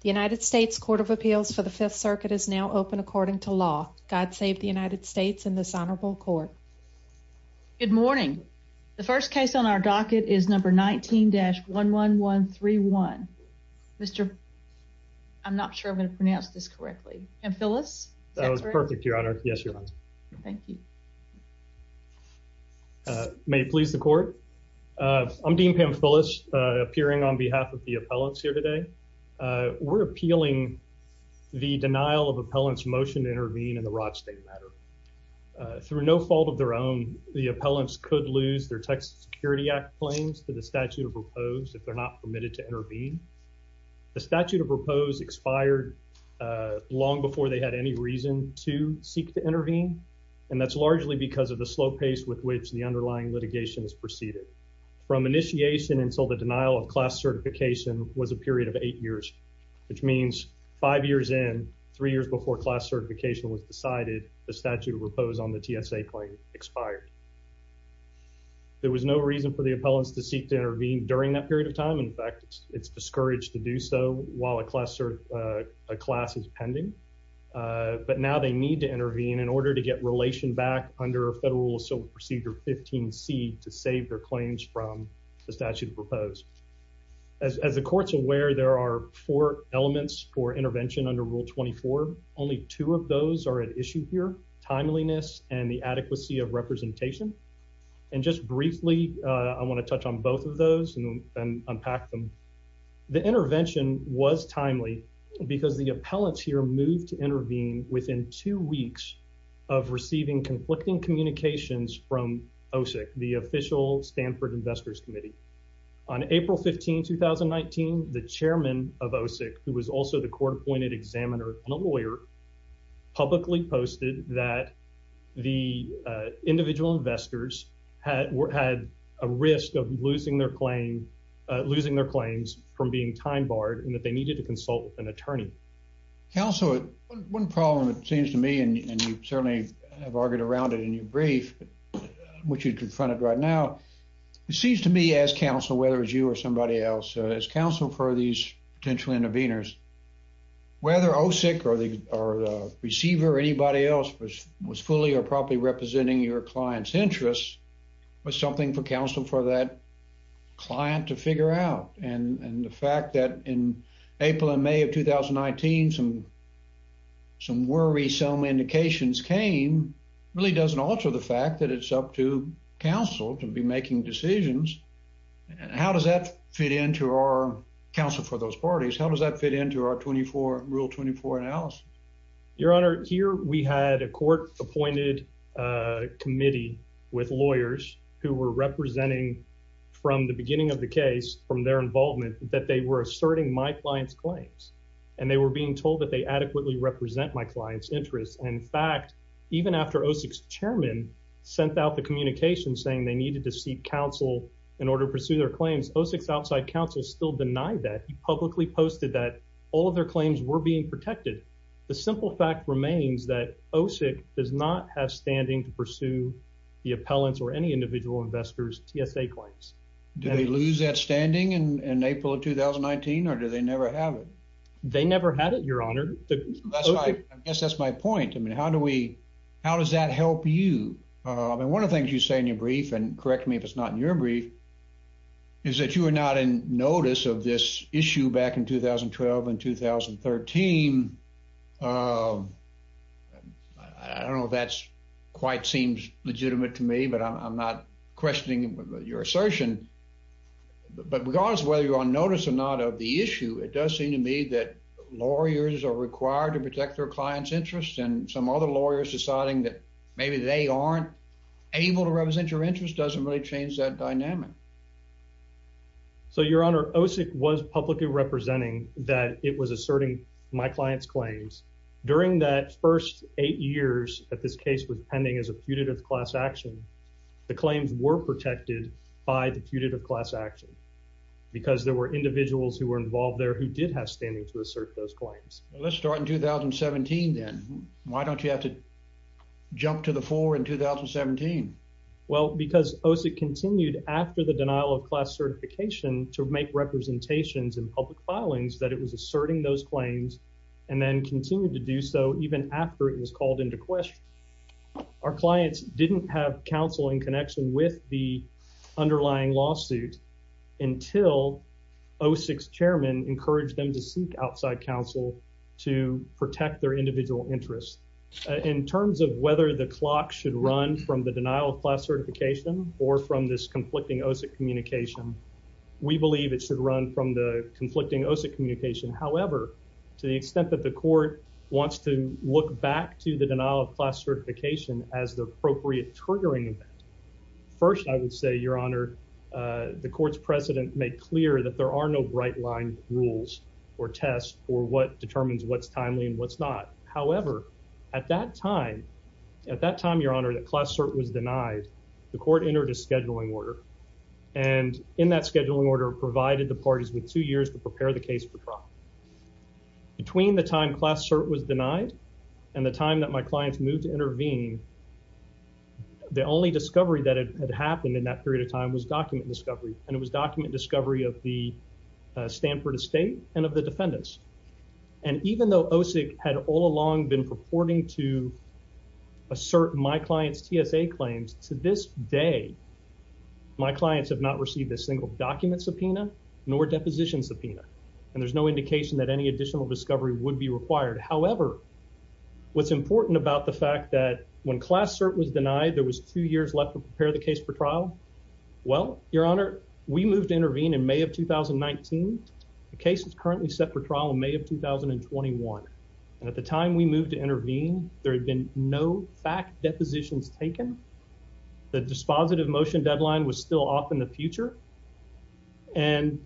The United States Court of Appeals for the Fifth Circuit is now open according to law. God save the United States in this honorable court. Good morning. The first case on our docket is number 19 dash 11131. Mr. I'm not sure I'm gonna pronounce this correctly. And Phyllis. That was perfect, Your Honor. Yes, you're right. Thank you. May it please the court. I'm Dean Pam Phyllis, appearing on behalf of the we're appealing the denial of appellants motion intervene in the Rod State matter through no fault of their own. The appellants could lose their Texas Security Act claims to the statute of proposed if they're not permitted to intervene. The statute of proposed expired long before they had any reason to seek to intervene, and that's largely because of the slow pace with which the underlying litigation is proceeded from initiation and so the denial of class certification was a period of eight years, which means five years in three years before class certification was decided. The statute of proposed on the TSA claim expired. There was no reason for the appellants to seek to intervene during that period of time. In fact, it's discouraged to do so while a class or a class is pending. But now they need to intervene in order to get relation back under federal. So procedure 15 C to save their claims from the statute of proposed. As the court's aware, there are four elements for intervention under Rule 24. Only two of those are an issue here, timeliness and the adequacy of representation. And just briefly, I want to touch on both of those and unpack them. The intervention was timely because the appellants here moved to intervene within two weeks of receiving conflicting communications from OSIC, the official Stanford Investors Committee. On April 15, 2019, the chairman of OSIC, who was also the court appointed examiner and a lawyer, publicly posted that the individual investors had had a risk of losing their claim, losing their claims from being time barred and that they needed to consult with an attorney. Council. One problem, it seems to me, and you certainly have argued around it in your brief, which you confronted right now, it seems to me as counsel, whether it's you or somebody else as counsel for these potential interveners, whether OSIC or the receiver or anybody else was was fully or probably representing your client's interests was something for counsel for that client to figure out. And the fact that in April and May of 2019, some some worry, some indications came really doesn't alter the fact that it's up to counsel to be making decisions. And how does that fit into our counsel for those parties? How does that fit into our 24 Rule 24 analysis? Your representing from the beginning of the case from their involvement that they were asserting my client's claims and they were being told that they adequately represent my client's interests. In fact, even after OSIC's chairman sent out the communication saying they needed to seek counsel in order to pursue their claims, OSIC's outside counsel still denied that publicly posted that all of their claims were being protected. The simple fact remains that OSIC does not have standing to pursue the appellants or any individual investors TSA claims. Do they lose that standing in April of 2019? Or do they never have it? They never had it, Your Honor. I guess that's my point. I mean, how do we how does that help you? I mean, one of the things you say in your brief and correct me if it's not in your brief is that you are not in notice of this issue back in 2012 and 2013. Uh, I don't know if that's quite seems legitimate to me, but I'm not questioning your assertion. But because whether you're on notice or not of the issue, it does seem to me that lawyers are required to protect their clients interests and some other lawyers deciding that maybe they aren't able to represent your interest doesn't really change that dynamic. So, Your Honor, OSIC was publicly representing that it was asserting my client's claims during that first eight years that this case was pending as a putative class action. The claims were protected by the putative class action because there were individuals who were involved there who did have standing to assert those claims. Let's start in 2017. Then why don't you have to jump to the more in 2017? Well, because OSIC continued after the denial of class certification to make representations in public filings that it was asserting those claims and then continued to do so even after it was called into question. Our clients didn't have counsel in connection with the underlying lawsuit until O six chairman encouraged them to seek outside counsel to protect their client's claims. So we believe that the clock should run from the denial of class certification or from this conflicting OSIC communication. We believe it should run from the conflicting OSIC communication. However, to the extent that the court wants to look back to the denial of class certification as the appropriate triggering event. First, I would say, Your Honor, the court's president made clear that there are no bright line rules or test or what determines what's timely and what's not. However, at that time, at that time, Your Honor, the class cert was denied. The court entered a scheduling order and in that scheduling order provided the parties with two years to prepare the case for drop between the time class cert was denied and the time that my clients moved to intervene. The only discovery that had happened in that period of time was document discovery, and it was document discovery of the Stanford estate and of the defendants. And even though OSIC had all along been purporting to assert my client's TSA claims to this day, my clients have not received a single document subpoena nor deposition subpoena, and there's no indication that any additional discovery would be required. However, what's important about the fact that when class cert was denied, there was two years left to case for trial. Well, Your Honor, we moved to intervene in May of 2019. The case is currently set for trial in May of 2021. At the time we moved to intervene, there had been no fact depositions taken. The dispositive motion deadline was still off in the future, and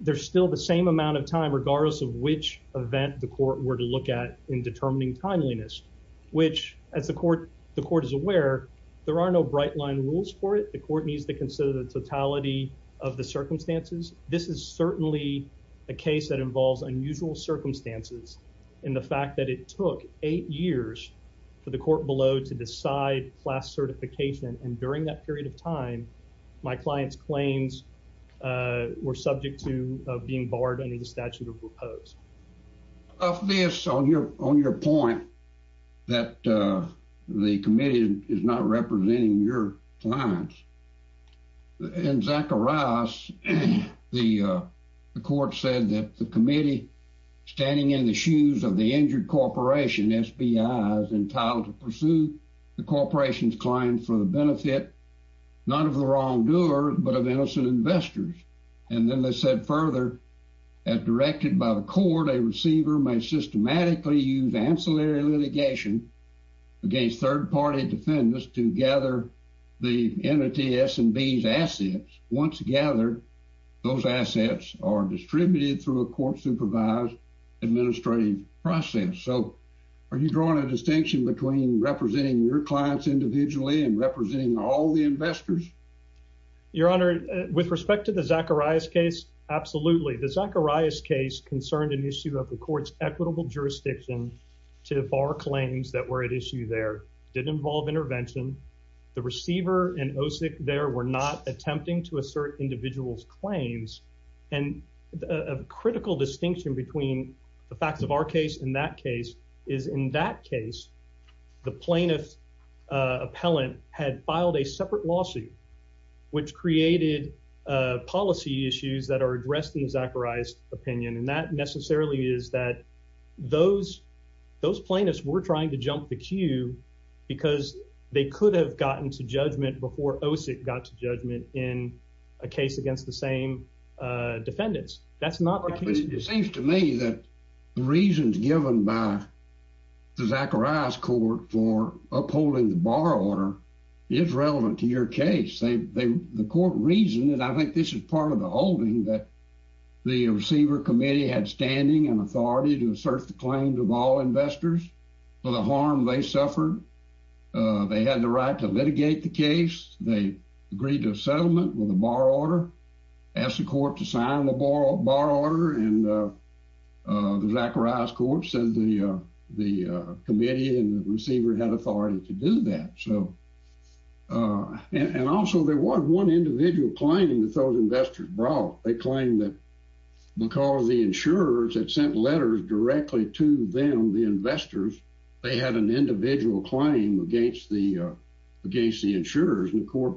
there's still the same amount of time, regardless of which event the court were to look at in determining timeliness, which, as the court the court is aware, there are no right line rules for it. The court needs to consider the totality of the circumstances. This is certainly a case that involves unusual circumstances in the fact that it took eight years for the court below to decide class certification. And during that period of time, my client's claims were subject to being barred under the statute of proposed of this on your on your point that the committee is not representing your clients. In Zacharias, the court said that the committee standing in the shoes of the injured corporation SB eyes entitled to pursue the corporation's claim for the benefit, not of the wrongdoer, but of innocent investors. And then they said further, as directed by the court, a receiver may systematically use ancillary litigation against third party defendants to gather the entity S and B's assets. Once gathered, those assets are distributed through a court supervised administrative process. So are you drawing a distinction between representing your clients individually and representing all the investors? Your Honor, with respect to the Zacharias case, absolutely. The Zacharias case concerned an issue of the court's equitable jurisdiction to bar claims that were at issue. There didn't involve intervention. The receiver and OSIC there were not attempting to assert individuals claims and a critical distinction between the case. The plaintiff appellant had filed a separate lawsuit, which created policy issues that are addressed in Zacharias opinion. And that necessarily is that those those plaintiffs were trying to jump the queue because they could have gotten to judgment before OSIC got to judgment in a case against the same defendants. That's not what it seems to me that the reasons given by the Zacharias court for upholding the bar order is relevant to your case. The court reasoned, and I think this is part of the holding, that the receiver committee had standing and authority to assert the claims of all investors for the harm they suffered. They had the right to litigate the case. They agreed to a settlement with the bar order and the Zacharias court said the the committee and the receiver had authority to do that. So and also there was one individual claim that those investors brought. They claim that because the insurers had sent letters directly to them, the investors, they had an individual claim against the against the insurers and the court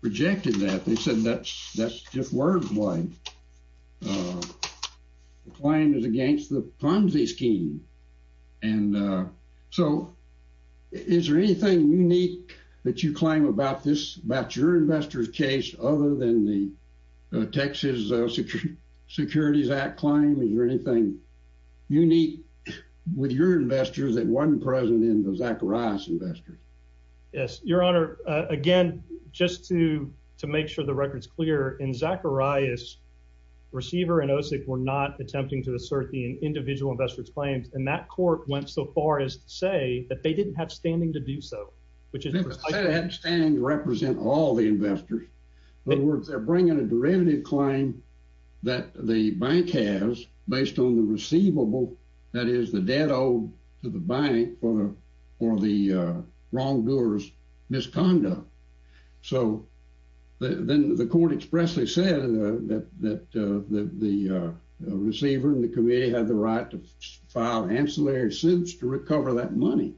rejected that. They said that's just wordplay. Uh, the claim is against the Ponzi scheme. And, uh, so is there anything unique that you claim about this about your investors case other than the Texas Securities Act claim? Is there anything unique with your investors that wasn't present in the Zacharias investors? Yes, Your Honor. Again, just to to make sure the record's clear in Zacharias receiver and OSIC were not attempting to assert the individual investors claims, and that court went so far as to say that they didn't have standing to do so, which is standing to represent all the investors. In other words, they're bringing a derivative claim that the bank has based on the receivable. That the wrongdoers misconduct. So then the court expressly said that the receiver in the committee had the right to file ancillary suits to recover that money.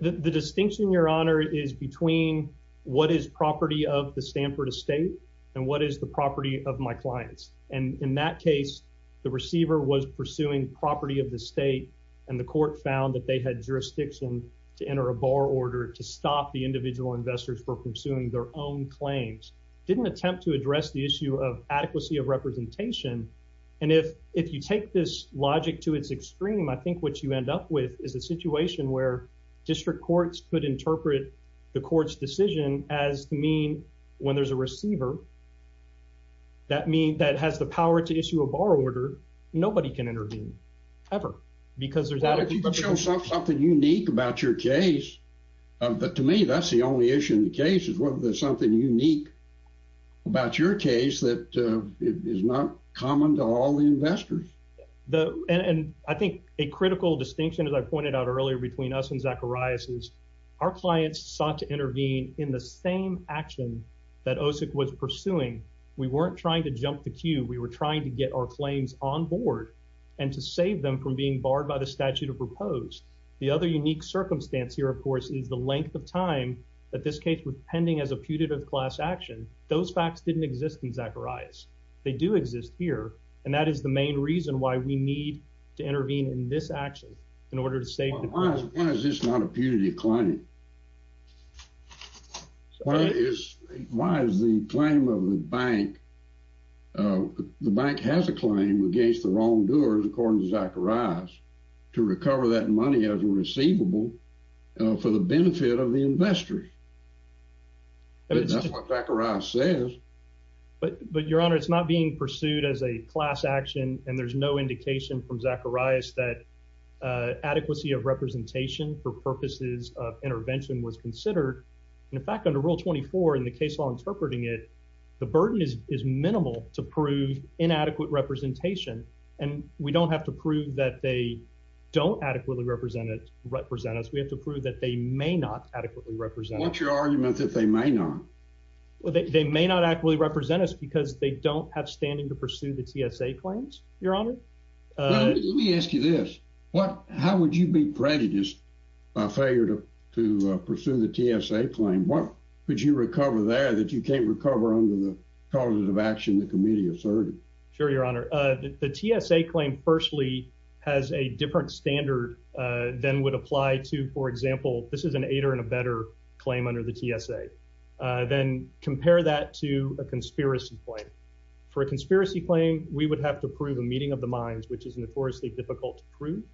The distinction, Your Honor, is between what is property of the Stanford estate and what is the property of my clients. And in that case, the receiver was pursuing property of the state, and the court found that they had jurisdiction to enter a bar order to stop the individual investors for pursuing their own claims didn't attempt to address the issue of adequacy of representation. And if if you take this logic to its extreme, I think what you end up with is a situation where district courts could interpret the court's decision as mean when there's a receiver that mean that has the power to issue a bar order. Nobody can intervene ever because there's something unique about your case. But to me, that's the only issue in the case is whether there's something unique about your case that is not common to all the investors. The and I think a critical distinction, as I pointed out earlier between us and Zacharias is our clients sought to intervene in the same action that OSIC was pursuing. We weren't trying to jump the queue. We were trying to get our claims on board and to save them from being barred by the statute of proposed. The other unique circumstance here, of course, is the length of time that this case with pending as a putative class action. Those facts didn't exist in Zacharias. They do exist here, and that is the main reason why we need to intervene in this action in order to save. Why is this not a punitive claim? Why is why is the claim of the bank? Uh, the bank has a claim against the wrongdoers, according to Zacharias, to recover that money as a receivable for the benefit of the investors. And that's what Zacharias says. But But, Your Honor, it's not being pursued as a class action, and there's no indication from Zacharias that adequacy of representation for purposes of intervention was considered. In fact, under Rule 24 in the case law interpreting it, the burden is is minimal to prove inadequate representation, and we don't have to prove that they don't adequately represented represent us. We have to prove that they may not adequately represent. What's your argument that they may not? They may not actually represent us because they don't have standing to pursue the TSA claims. Your Honor, let me ask you this. What? How would you be prejudiced by failure to pursue the TSA claim? What could you recover there that you can't recover under the causative action? The committee asserted. Sure, Your Honor, the TSA claim firstly has a different standard than would apply to, for example, this is an eight or in a better claim under the TSA. Then compare that to a conspiracy point for a conspiracy claim. We would have to prove a meeting of the minds, which is notoriously difficult to prove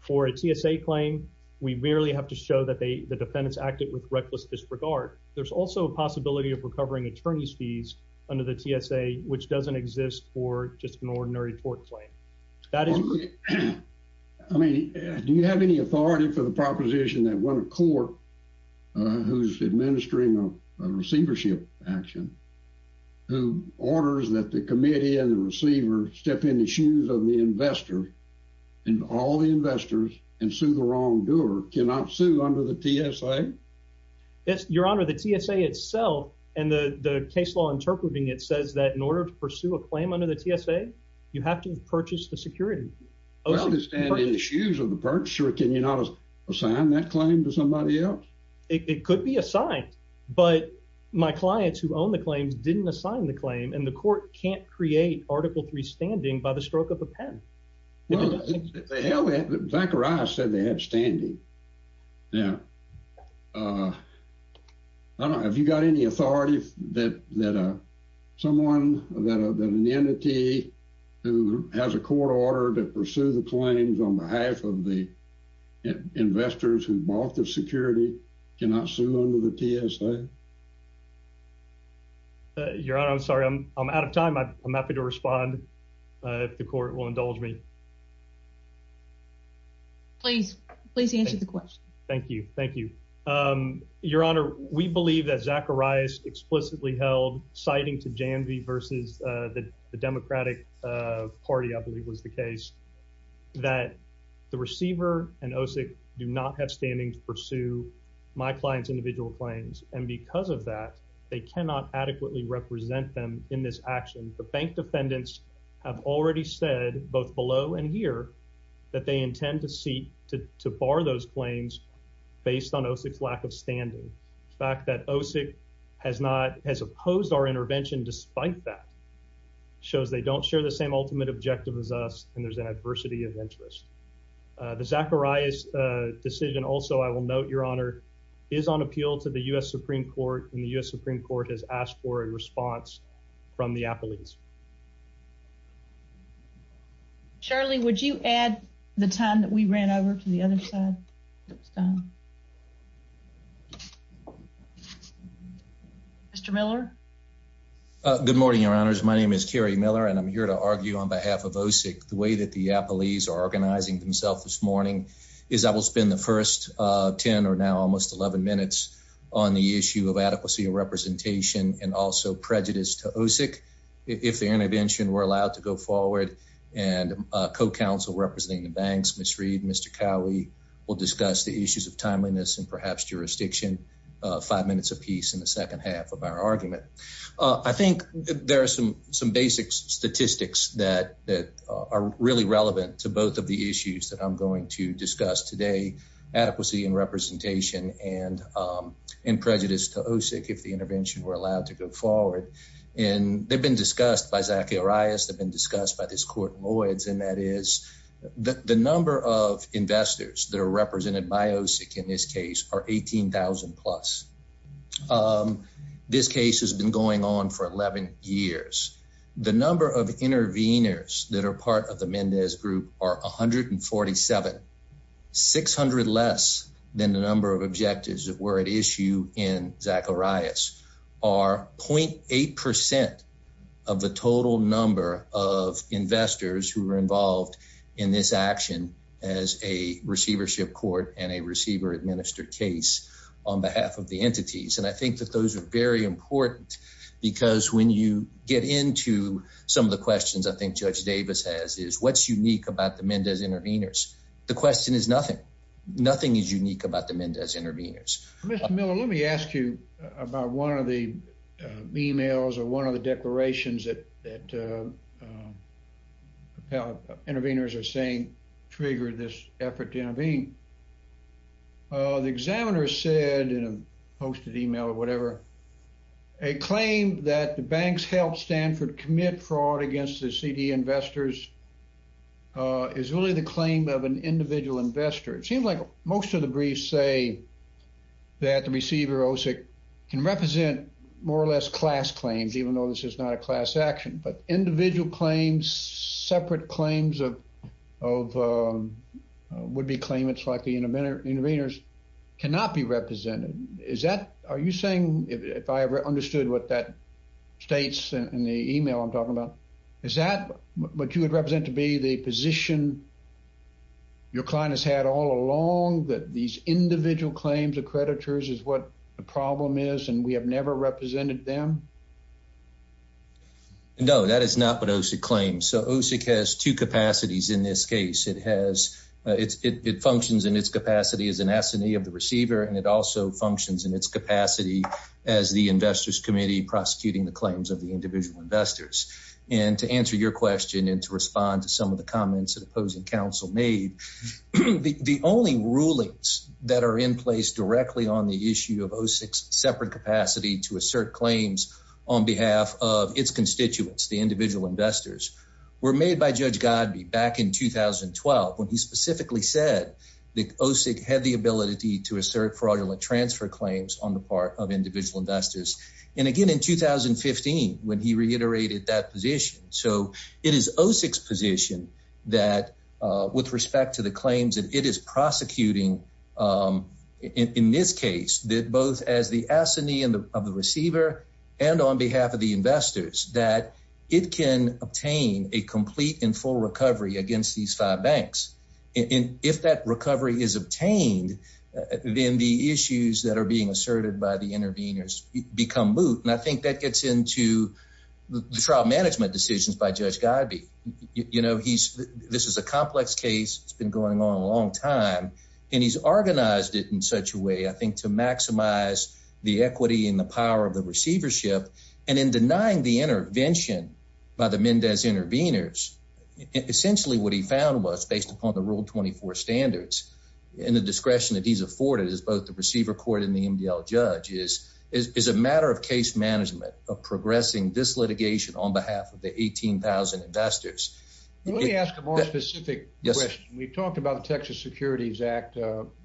for a TSA claim. We merely have to show that the defendants acted with reckless disregard. There's also a possibility of recovering attorney's fees under the TSA, which doesn't exist for just an ordinary court claim. That is, I mean, do you have any authority for the proposition that one of court who's administering receivership action who orders that the committee and the receiver step in the shoes of the investor and all the investors and sue the wrongdoer cannot sue under the TSA? Yes, Your Honor, the TSA itself and the case law interpreting it says that in order to pursue a claim under the TSA, you have to purchase the security issues of the purchase. Or can you not assign that claim to somebody else? It could be assigned, but my clients who own the claims didn't assign the claim, and the court can't create Article three standing by the well, they held it back or I said they had standing. Yeah. Uh, I don't know if you got any authority that that someone that an entity who has a court order to pursue the claims on behalf of the investors who bought the security cannot sue under the TSA. Your Honor, I'm sorry. I'm out of time. I'm happy to respond. If the court will indulge me. Please, please answer the question. Thank you. Thank you. Um, Your Honor, we believe that Zacharias explicitly held, citing to Janvey versus the Democratic Party, I believe was the case that the receiver and OSIC do not have standing to pursue my client's individual claims. And because of that, they cannot adequately represent them in this action. The bank defendants have already said both below and here that they intend to seek to bar those claims based on OSIC's lack of standing. The fact that OSIC has not has opposed our intervention despite that shows they don't share the same ultimate objective is us, and there's an adversity of interest. The Zacharias decision. Also, I will note your honor is on appeal to the U. S. Supreme Court in the U. S. Supreme Court has asked for a response from the Apple East. Charlie, would you add the time that we ran over to the other side? It's done. Mr Miller. Good morning, Your Honors. My name is Kerry Miller, and I'm here to argue on behalf of OSIC. The way that the Apple East are organizing themselves this morning is I will spend the 1st 10 or now almost 11 minutes on the issue of adequacy of representation and also prejudice toe OSIC. If the intervention were allowed to go forward and co council representing the banks, Miss Reed, Mr Cowie will discuss the issues of timeliness and perhaps jurisdiction five minutes apiece in the second half of our argument. I think there are some some basic statistics that that are really relevant to both of the issues that I'm going to discuss today. Adequacy and representation and in prejudice toe OSIC. If the intervention were allowed to go forward and they've discussed by Zacharias have been discussed by this court Lloyd's, and that is that the number of investors that are represented by OSIC in this case are 18,000 plus. Um, this case has been going on for 11 years. The number of interveners that are part of the Mendez group are 147 600 less than the number of objectives that were at issue in Zacharias are 0.8% of the total number of investors who were involved in this action as a receivership court and a receiver administered case on behalf of the entities. And I think that those are very important because when you get into some of the questions I think Judge Davis has is what's unique about the Mendez interveners. The question is nothing. Nothing is unique about the Mendez interveners. Mr Miller, let me ask you about one of the emails or one of the declarations that that, uh, uh, interveners are saying triggered this effort to intervene. Uh, the examiner said in a posted email or whatever a claim that the banks helped Stanford commit fraud against the CD investors is really the claim of an individual investor. It seems like most of the briefs say that the receiver OSIC can represent more or less class claims, even though this is not a class action. But individual claims, separate claims of of, uh, would be claim. It's like the intervener interveners cannot be represented. Is that are you saying if I ever understood what that states in the email I'm talking about, is that what you would represent to be the position your client has had all along that these individual claims of creditors is what the problem is, and we have never represented them. No, that is not what OSIC claims. So OSIC has two capacities. In this case, it has. It functions in its capacity as an assignee of the receiver, and it also functions in its capacity as the investors committee prosecuting the investors. And to answer your question and to respond to some of the comments that opposing counsel made, the only rulings that are in place directly on the issue of OSIC separate capacity to assert claims on behalf of its constituents, the individual investors were made by Judge God be back in 2012 when he specifically said that OSIC had the ability to assert fraudulent transfer claims on the part of individual investors. And again, in 2015, when he reiterated that position. So it is OSIC's position that with respect to the claims that it is prosecuting, um, in this case, that both as the assignee of the receiver and on behalf of the investors that it can obtain a complete and full recovery against these five banks. And if that recovery is obtained, then the issues that are being asserted by the gets into the trial management decisions by Judge God be, you know, he's This is a complex case. It's been going on a long time, and he's organized it in such a way, I think, to maximize the equity in the power of the receivership and in denying the intervention by the Mendez interveners. Essentially, what he found was based upon the rule 24 standards and the discretion that he's afforded is both the receiver court in the MDL judges is a matter of case management of progressing this litigation on behalf of the 18,000 investors. Let me ask a more specific question. We talked about the Texas Securities Act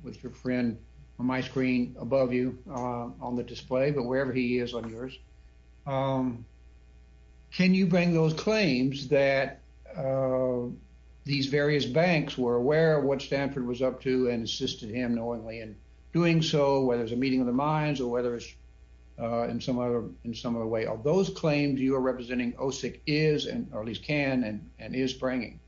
with your friend on my screen above you on the display, but wherever he is on yours, um, can you bring those claims that, uh, these various banks were aware of what Stanford was up to and assisted him knowingly in doing so, whether it's a meeting of the minds or whether it's in some other in some other way of those claims you're representing OSIC is and or at least can and and is bringing.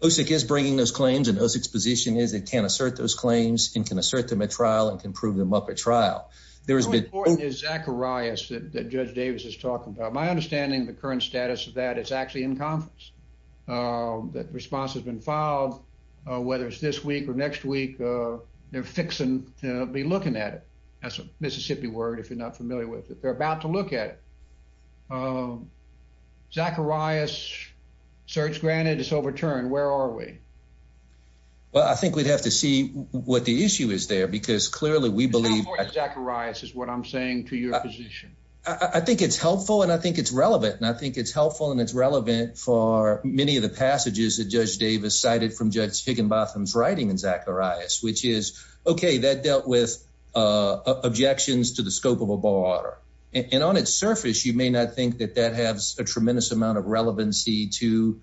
OSIC is bringing those claims and those exposition is it can assert those claims and can assert them at trial and can prove them up at trial. There is a boy is Zacharias that Judge Davis is talking about my understanding. The current status of that is actually in conference. Uh, that response has been filed, whether it's this week or next week. Uh, they're fixing to be looking at it. That's a Mississippi word. If you're not familiar with it, they're about to look at it. Um, Zacharias search granted. It's overturned. Where are we? Well, I think we'd have to see what the issue is there, because clearly we believe Zacharias is what I'm saying to your position. I think it's helpful, and I think it's relevant, and I think it's helpful, and it's relevant for many of the passages that Judge Davis cited from Judge Higginbotham's writing and Zacharias, which is okay. That dealt with objections to the scope of a bar, and on its surface, you may not think that that has a tremendous amount of relevancy to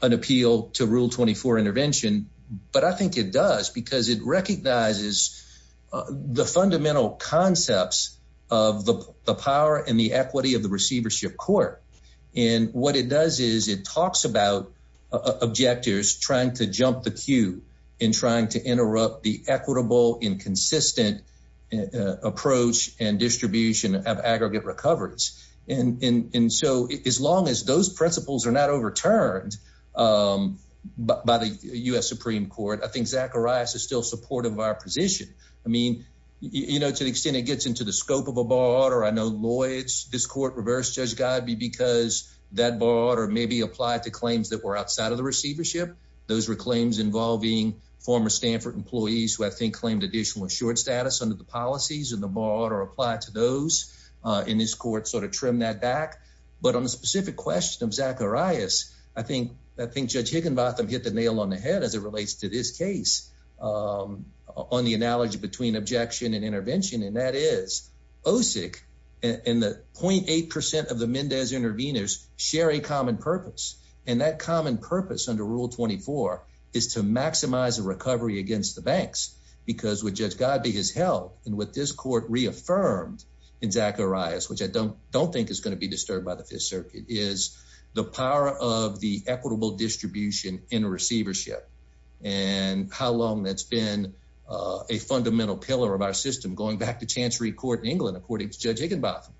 an appeal to Rule 24 intervention. But I think it does because it recognizes the fundamental concepts of the power and the equity of the receivership court. And what it does is it talks about objectors trying to interrupt the equitable, inconsistent approach and distribution of aggregate recoveries. And so as long as those principles are not overturned, um, by the U. S. Supreme Court, I think Zacharias is still supportive of our position. I mean, you know, to the extent it gets into the scope of a bar order. I know Lloyd's this court reverse Judge God be because that bar order may be applied to claims that were outside of the receivership. Those were claims involving former Stanford employees who, I think, claimed additional short status under the policies of the bar order applied to those in this court sort of trim that back. But on the specific question of Zacharias, I think I think Judge Higginbotham hit the nail on the head as it relates to this case, um, on the analogy between objection and intervention. And that is OSIC. And the 0.8% of the Mendez intervenors share a common purpose under Rule 24 is to maximize the recovery against the banks because with Judge God be his health and with this court reaffirmed in Zacharias, which I don't don't think is gonna be disturbed by the Fifth Circuit is the power of the equitable distribution in receivership and how long that's been a fundamental pillar of our system going back to chancery court in England, according to Judge Higginbotham.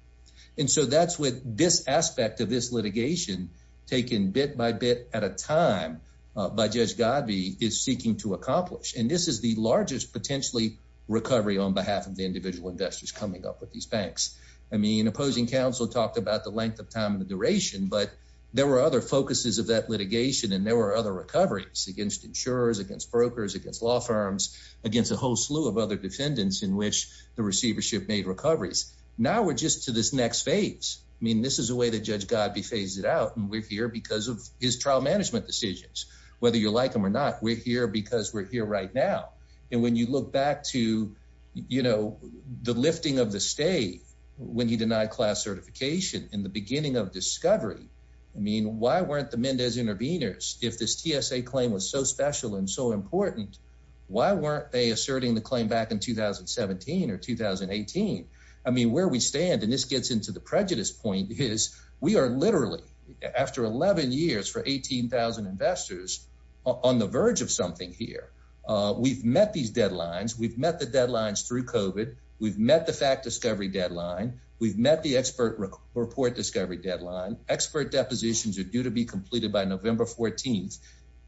And so that's with this effect of this litigation taken bit by bit at a time by Judge God be is seeking to accomplish. And this is the largest potentially recovery on behalf of the individual investors coming up with these banks. I mean, opposing counsel talked about the length of time and the duration, but there were other focuses of that litigation, and there were other recoveries against insurers, against brokers, against law firms, against a whole slew of other defendants in which the receivership made recoveries. Now we're just to this next phase. I mean, this is a way that Judge God be phase it out, and we're here because of his trial management decisions. Whether you like him or not, we're here because we're here right now. And when you look back to, you know, the lifting of the state when he denied class certification in the beginning of discovery, I mean, why weren't the Mendez interveners? If this TSA claim was so special and so important, why weren't they asserting the claim back in 2017 or 2018? I mean, where we stand, and this gets into the prejudice point is we are literally after 11 years for 18,000 investors on the verge of something here. We've met these deadlines. We've met the deadlines through COVID. We've met the fact discovery deadline. We've met the expert report discovery deadline. Expert depositions are due to be completed by November 14th.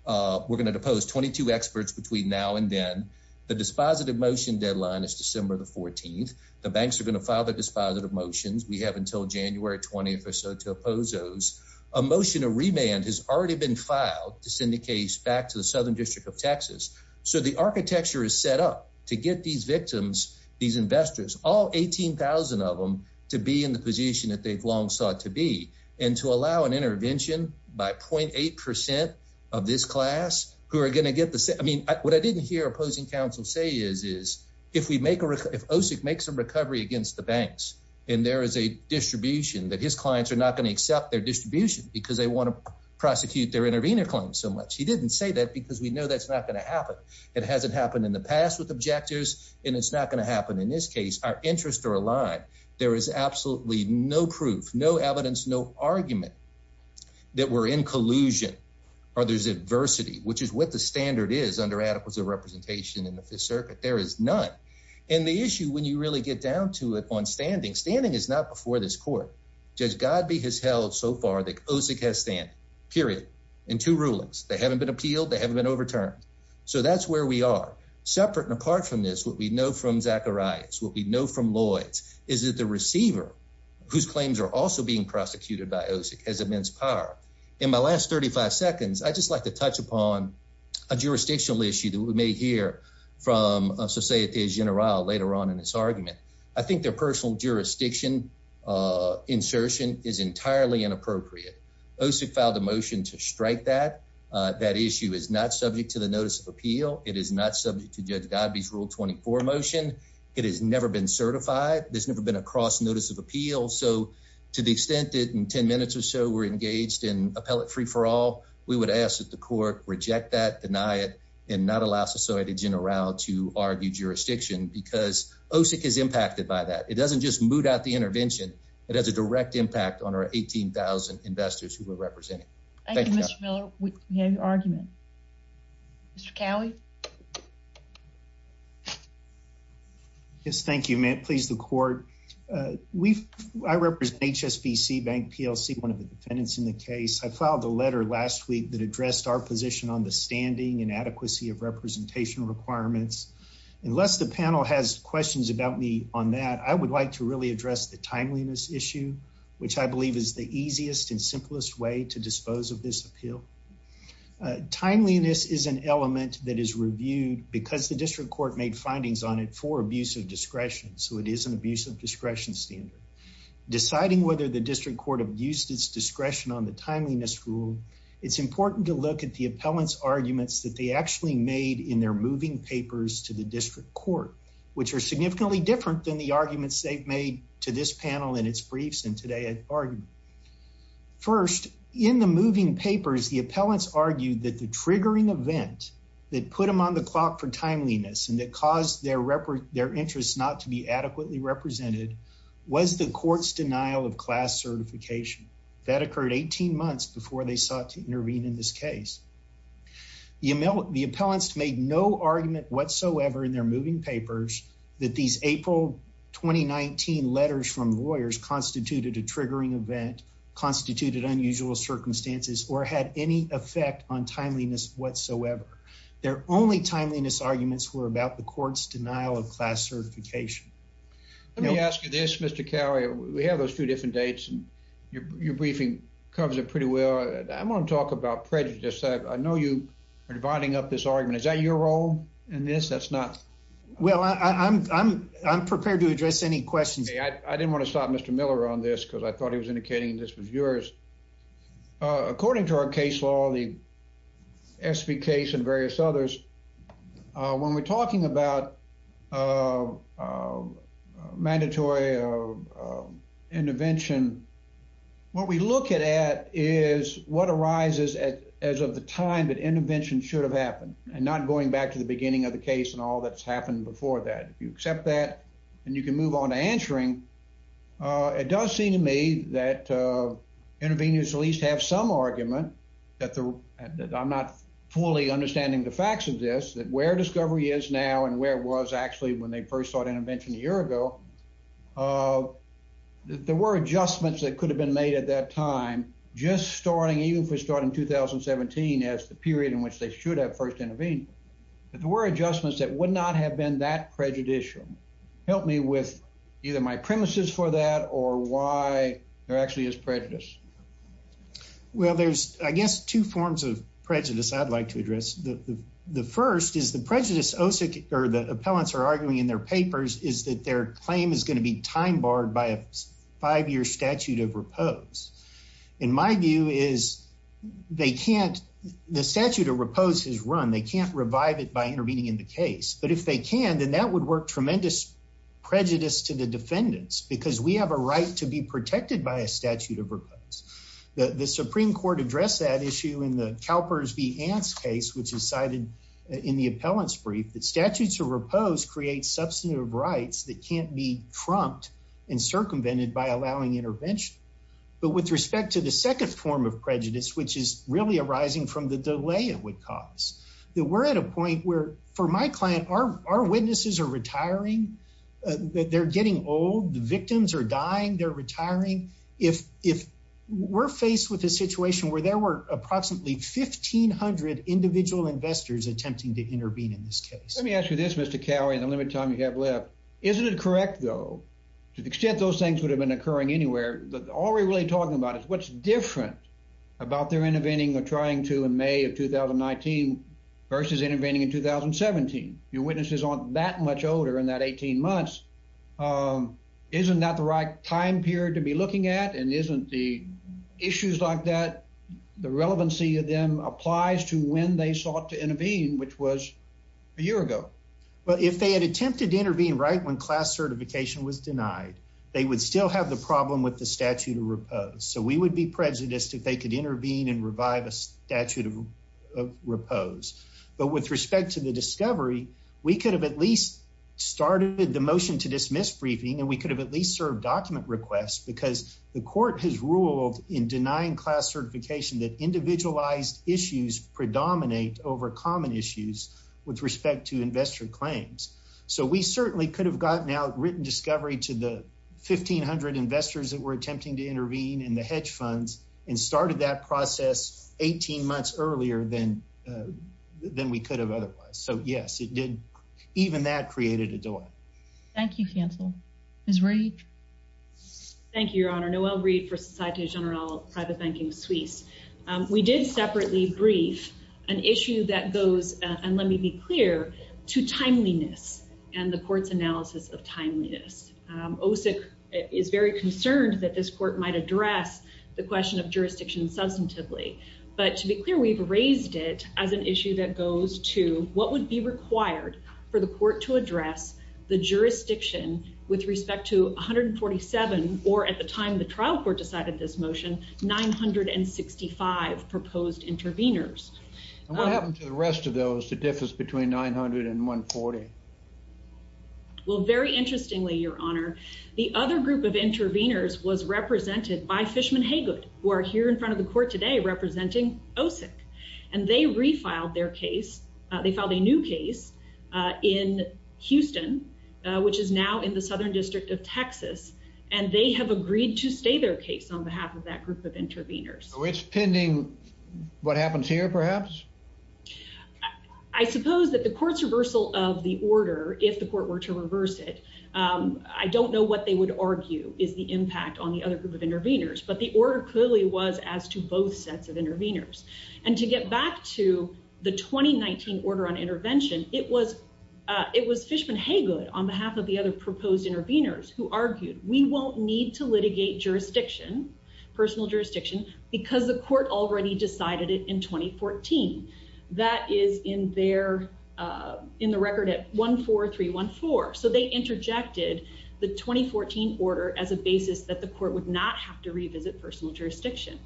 We're going to depose 22 experts between now and then. The dispositive motion deadline is December the 14th. The banks are gonna file the dispositive motions. We have until January 20th or so to oppose those emotion. A remand has already been filed to send the case back to the southern district of Texas. So the architecture is set up to get these victims, these investors, all 18,000 of them to be in the position that they've long sought to be and to allow an intervention by 0.8% of this class who are going to get the same. I mean, what I didn't hear opposing counsel say is is if we make a, if OSIC makes a recovery against the banks and there is a distribution that his clients are not going to accept their distribution because they want to prosecute their intervener claim so much. He didn't say that because we know that's not going to happen. It hasn't happened in the past with objectors, and it's not going to happen in this case. Our interests are aligned. There is absolutely no proof, no evidence, no argument that we're in collusion or there's adversity, which is what the standard is under adequacy of representation in the Fifth Circuit. There is none. And the issue when you really get down to it on standing standing is not before this court. Judge Godby has held so far that OSIC has stand period in two rulings. They haven't been appealed. They haven't been overturned. So that's where we are separate. And apart from this, what we know from Zachariah's what we know from Lloyd's is that the receiver whose claims are also being in my last 35 seconds, I just like to touch upon a jurisdictional issue that we may hear from Societe Generale later on in this argument. I think their personal jurisdiction insertion is entirely inappropriate. OSIC filed a motion to strike that that issue is not subject to the notice of appeal. It is not subject to Judge Godby's Rule 24 motion. It has never been certified. There's never been a cross notice of appeal. So to the extent that in 10 minutes or so we're engaged in appellate free for all, we would ask that the court reject that, deny it and not allow Societe Generale to argue jurisdiction because OSIC is impacted by that. It doesn't just move out the intervention. It has a direct impact on our 18,000 investors who were representing. Thank you, Mr Miller. We have your argument. Mr Cowley. Yes, thank you. May it please the court. Uh, we've I represent HSBC Bank PLC, one of the defendants in the case. I filed a letter last week that addressed our position on the standing inadequacy of representation requirements. Unless the panel has questions about me on that, I would like to really address the timeliness issue, which I believe is the easiest and simplest way to dispose of this appeal. Uh, timeliness is an element that is really important reviewed because the district court made findings on it for abuse of discretion. So it is an abuse of discretion standard. Deciding whether the district court abused its discretion on the timeliness rule, it's important to look at the appellant's arguments that they actually made in their moving papers to the district court, which are significantly different than the arguments they've made to this panel in its briefs and today at argument. First, in the moving papers, the appellants argued that the item on the clock for timeliness and that caused their interest not to be adequately represented was the court's denial of class certification. That occurred 18 months before they sought to intervene in this case. The appellants made no argument whatsoever in their moving papers that these April 2019 letters from lawyers constituted a triggering event, constituted unusual circumstances or had any effect on timeliness whatsoever. Their only timeliness arguments were about the court's denial of class certification. Let me ask you this, Mr Carrier. We have those two different dates, and your briefing covers it pretty well. I'm gonna talk about prejudice. I know you are dividing up this argument. Is that your role in this? That's not well, I'm I'm prepared to address any questions. I didn't want to stop Mr Miller on this because I thought he was indicating this was yours. According to our case law, the S. P. Case and various others. When we're talking about, uh, mandatory, uh, intervention, what we look at is what arises as of the time that intervention should have happened and not going back to the beginning of the case and all that's happened before that you accept that and you can move on to answering. Uh, it does seem to me that, uh, intervening is at least have some argument that I'm not fully understanding the facts of this, that where discovery is now and where was actually when they first thought intervention a year ago. Uh, there were adjustments that could have been made at that time, just starting even for starting 2017 as the period in which they should have first intervened. There were adjustments that would not have been that prejudicial. Help me with either my premises for that or why there actually is prejudice. Well, there's, I guess, two forms of prejudice I'd like to address. The first is the prejudice Osa or the appellants are arguing in their papers is that their claim is going to be time barred by a five year statute of pose. In my view is they can't. The statute of repose his run. They can't revive it by intervening in the case. But if they can, then that would work tremendous prejudice to the defendants because we have a right to be protected by a statute of repose. The Supreme Court addressed that issue in the Calpers be ants case, which is cited in the appellants brief that statutes of repose create substantive rights that can't be trumped and circumvented by allowing intervention. But with respect to the second form of prejudice, which is really arising from the delay, it would cause that we're at a point where for my client are our witnesses are retiring. They're getting old. The victims are dying. They're retiring. If if we're faced with a situation where there were approximately 1500 individual investors attempting to intervene in this case, let me ask you this, Mr Cowie, the limit time you have left. Isn't it correct, though, to the extent those things would have been occurring anywhere? All we're really talking about is what's different about their intervening or trying to in May of 2019 versus intervening in 2017. Your witnesses aren't that much older in that 18 months. Um, isn't that the right time period to be looking at? And isn't the issues like that? The relevancy of them applies to when they sought to intervene, which was a year ago. But if they had attempted intervene right when class certification was denied, they would still have the problem with the statute of repose. So we would be prejudiced if they could intervene and revive a statute of repose. But with respect to the discovery, we could have at least started the motion to dismiss briefing, and we could have at least served document requests because the court has ruled in denying class certification that individualized issues predominate over common issues with respect to investor claims. So we certainly could have gotten out written discovery to the 1500 investors that we're attempting to intervene in the hedge funds and started that process 18 months earlier than than we could have otherwise. So, yes, it did. Even that created a delay. Thank you. Cancel his rage. Thank you, Your Honor. Noel Reed for Society General Private Banking Suisse. We did separately brief an issue that goes on. Let me be clear to timeliness and the court's analysis of timeliness. OSIC is very concerned that this court might address the question of jurisdiction substantively. But to be clear, we've raised it as an issue that goes to what would be required for the court to address the jurisdiction with respect to 147 or at the time the trial court decided this motion 965 proposed interveners. What happened to the rest of those? The difference between 900 and 1 40. Well, very interestingly, Your Honor, the other group of interveners was represented by Fishman. Hey, good. We're here in front of the court today representing OSIC, and they refiled their case. They found a new case in Houston, which is now in the southern district of Texas, and they have agreed to stay their case on behalf of that group of interveners, which pending what happens here. Perhaps I suppose that the court's reversal of the order if the court were to reverse it, I don't know what they would argue is the impact on the other group of interveners. But the order clearly was as to both sets of interveners and to get back to the 2019 order on intervention. It was it was Fishman. Hey, good on behalf of the other proposed interveners who argued we won't need to litigate jurisdiction, personal jurisdiction because the court already decided it in 2014. That is in there in the record at 14314. So they interjected the 2014 order as a basis that the court would not have to revisit personal jurisdiction.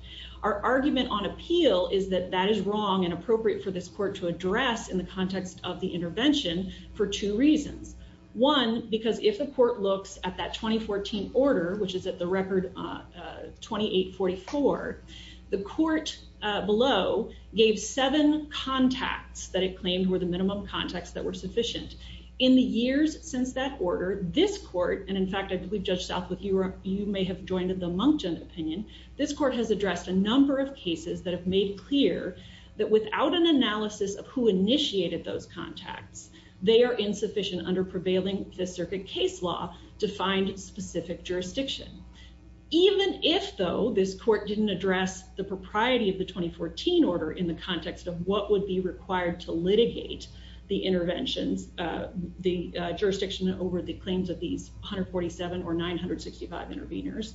Our argument on appeal is that that is wrong and appropriate for this court to address in the context of the intervention for two reasons. One, because if the court looks at that 2014 order, which is at the record 2844, the court below gave seven contacts that it claimed were the minimum context that were sufficient in the years since that order. This court and in fact, I believe Judge South with you or you may have joined the Monkton opinion. This court has addressed a number of cases that have made clear that without an analysis of who initiated those contacts, they are insufficient under prevailing Fifth Circuit case law to find specific jurisdiction. Even if, though this court didn't address the propriety of the 2014 order in the context of what would be required to litigate the interventions, the jurisdiction over the claims of these 147 or 965 interveners,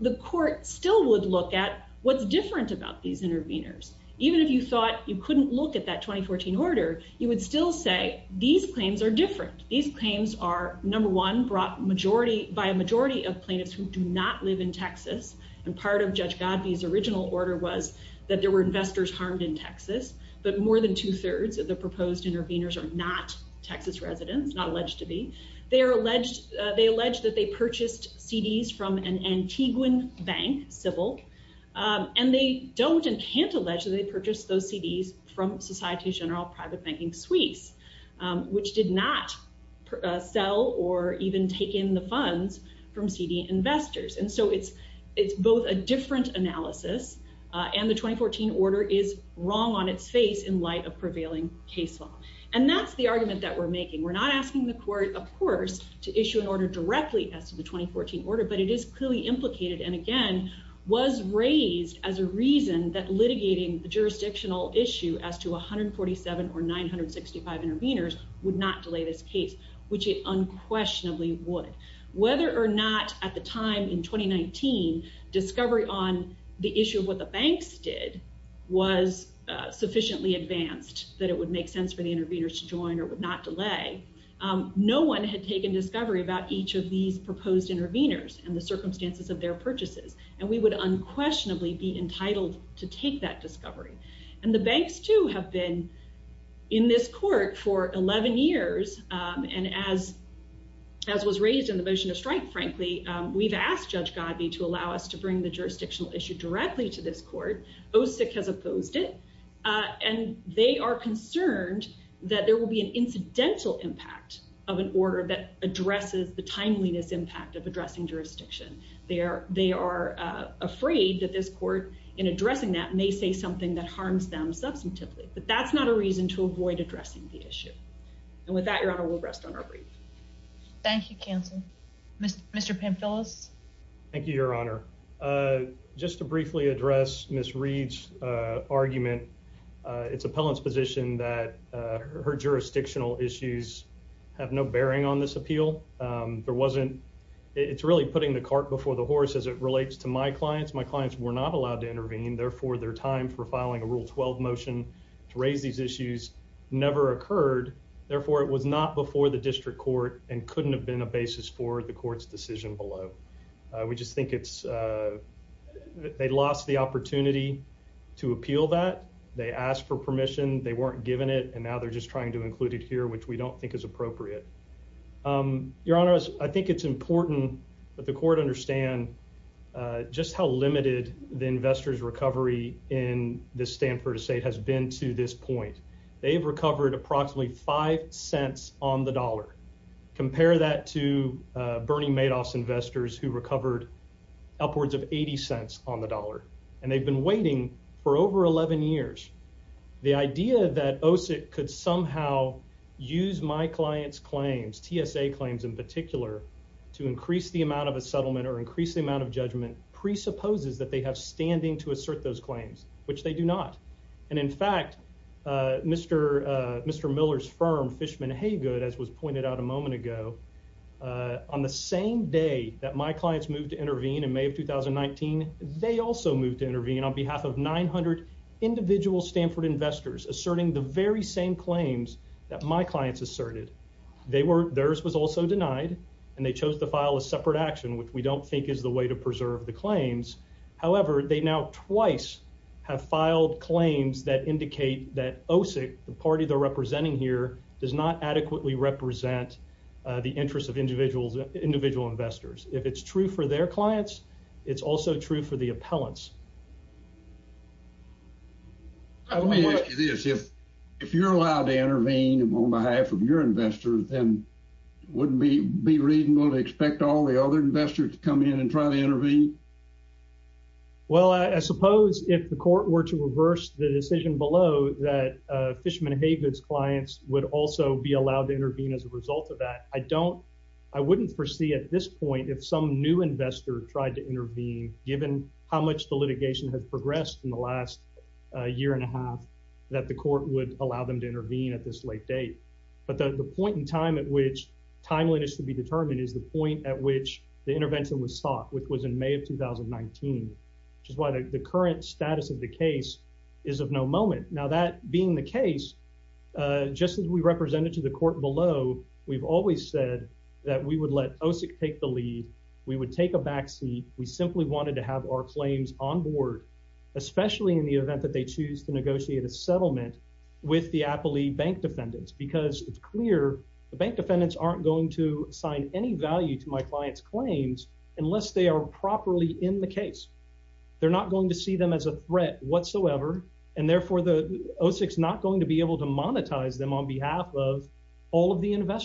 the court still would look at what's different about these interveners. Even if you thought you couldn't look at that 2014 order, you would still say these claims are different. These claims are number one brought majority by a majority of plaintiffs who do not live in Texas. And part of Judge Godfrey's original order was that there were investors harmed in Texas, but more than two thirds of the proposed interveners are not Texas residents, not alleged to be. They are alleged, they alleged that they purchased CDs from an Antiguan bank, Sybil, and they don't and can't allege that they purchased those CDs from Society General Private Banking Suisse, which did not sell or even take in the funds from CD investors. And so it's, it's both a different analysis, and the 2014 order is wrong on its face in light of prevailing case law. And that's the argument that we're making. We're not going to issue an order directly as to the 2014 order, but it is clearly implicated and again, was raised as a reason that litigating the jurisdictional issue as to 147 or 965 interveners would not delay this case, which it unquestionably would. Whether or not at the time in 2019, discovery on the issue of what the banks did was sufficiently advanced that it would make sense for us to make an inquiry about each of these proposed interveners and the circumstances of their purchases. And we would unquestionably be entitled to take that discovery. And the banks too have been in this court for 11 years. And as, as was raised in the motion to strike, frankly, we've asked Judge Godby to allow us to bring the jurisdictional issue directly to this court. OSIC has opposed it. And they are concerned that there will be an incidental impact of an order that addresses the timeliness impact of addressing jurisdiction. They are, they are afraid that this court in addressing that may say something that harms them substantively, but that's not a reason to avoid addressing the issue. And with that, your honor, we'll rest on our brief. Thank you. Council. Mr. Pan Phyllis. Thank you, Your Honor. Uh, just to briefly address Miss Reed's argument, it's appellant's position that her jurisdictional issues have no this appeal. Um, there wasn't. It's really putting the cart before the horse as it relates to my clients. My clients were not allowed to intervene. Therefore, their time for filing a rule 12 motion to raise these issues never occurred. Therefore, it was not before the district court and couldn't have been a basis for the court's decision below. We just think it's, uh, they lost the opportunity to appeal that they asked for permission. They weren't given it, and now they're just trying to include it here, which we don't think is appropriate. Um, Your Honor, I think it's important that the court understand just how limited the investors recovery in the Stanford estate has been to this point. They've recovered approximately five cents on the dollar. Compare that to Bernie Madoff's investors who recovered upwards of 80 cents on the dollar, and they've been waiting for over 11 years. The idea that OSIT could somehow use my clients claims TSA claims in particular to increase the amount of a settlement or increase the amount of judgment presupposes that they have standing to assert those claims, which they do not. And in fact, Mr Mr Miller's firm Fishman Haygood, as was pointed out a moment ago on the same day that my clients moved to intervene in May of 2019. They have of 900 individual Stanford investors asserting the very same claims that my clients asserted they were. Theirs was also denied, and they chose to file a separate action, which we don't think is the way to preserve the claims. However, they now twice have filed claims that indicate that OSIT, the party they're representing here, does not adequately represent the interest of individuals, individual investors. If it's true for their clients, it's also true for the appellants. Let me ask you this. If if you're allowed to intervene on behalf of your investors, then wouldn't be be reasonable to expect all the other investors to come in and try to intervene? Well, I suppose if the court were to reverse the decision below that Fishman Haygood's clients would also be allowed to intervene as a result of that. I don't I wouldn't foresee at this point if some new investor tried to intervene, given how much the litigation has progressed in the last year and a half that the court would allow them to intervene at this late date. But the point in time at which timeliness to be determined is the point at which the intervention was sought, which was in May of 2019, which is why the current status of the case is of no moment. Now, that being the case, just as we represented to the court below, we've always said that we would take a back seat. We simply wanted to have our claims on board, especially in the event that they choose to negotiate a settlement with the Apple bank defendants, because it's clear the bank defendants aren't going to assign any value to my client's claims unless they are properly in the case. They're not going to see them as a threat whatsoever. And therefore, the OSIC is not going to be able to monetize them on behalf of all of the TSA claim.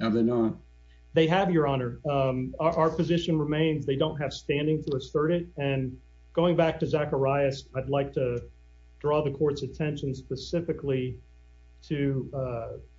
Have they not? They have, Your Honor. Our position remains they don't have standing to assert it. And going back to Zacharias, I'd like to draw the court's attention specifically to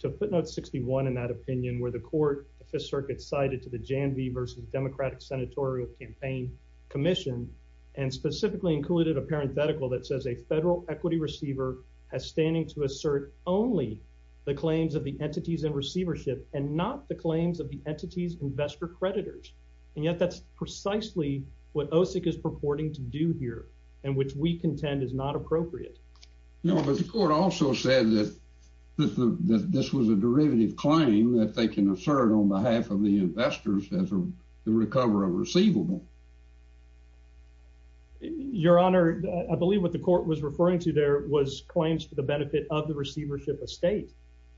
footnote 61 in that opinion, where the court, the Fifth Circuit cited to the Janvey versus Democratic Senatorial Campaign Commission, and specifically included a parenthetical that says a federal equity receiver has standing to assert only the claims of the entities and receivership and not the claims of the entities, investor creditors. And yet that's precisely what OSIC is purporting to do here and which we contend is not appropriate. No, but the court also said that this was a derivative claim that they can assert on behalf of the investors as the recovery of receivable. Your Honor, I believe what the court was referring to there was claims for the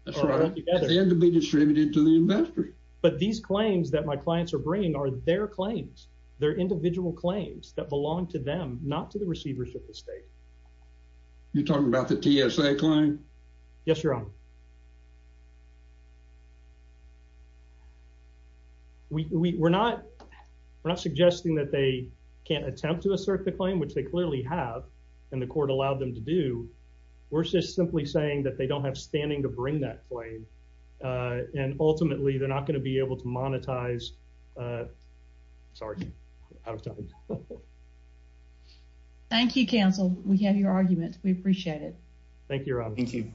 end to be distributed to the investor. But these claims that my clients are bringing are their claims, their individual claims that belong to them, not to the receivership of the state. You're talking about the TSA claim? Yes, Your Honor. We're not suggesting that they can't attempt to assert the claim, which they clearly have, and the court allowed them to do. We're just simply saying that they don't have standing to bring that claim. And ultimately, they're not going to be able to monetize. Sorry, out of time. Thank you, counsel. We have your argument. We appreciate it. Thank you, Your Honor. Thank you.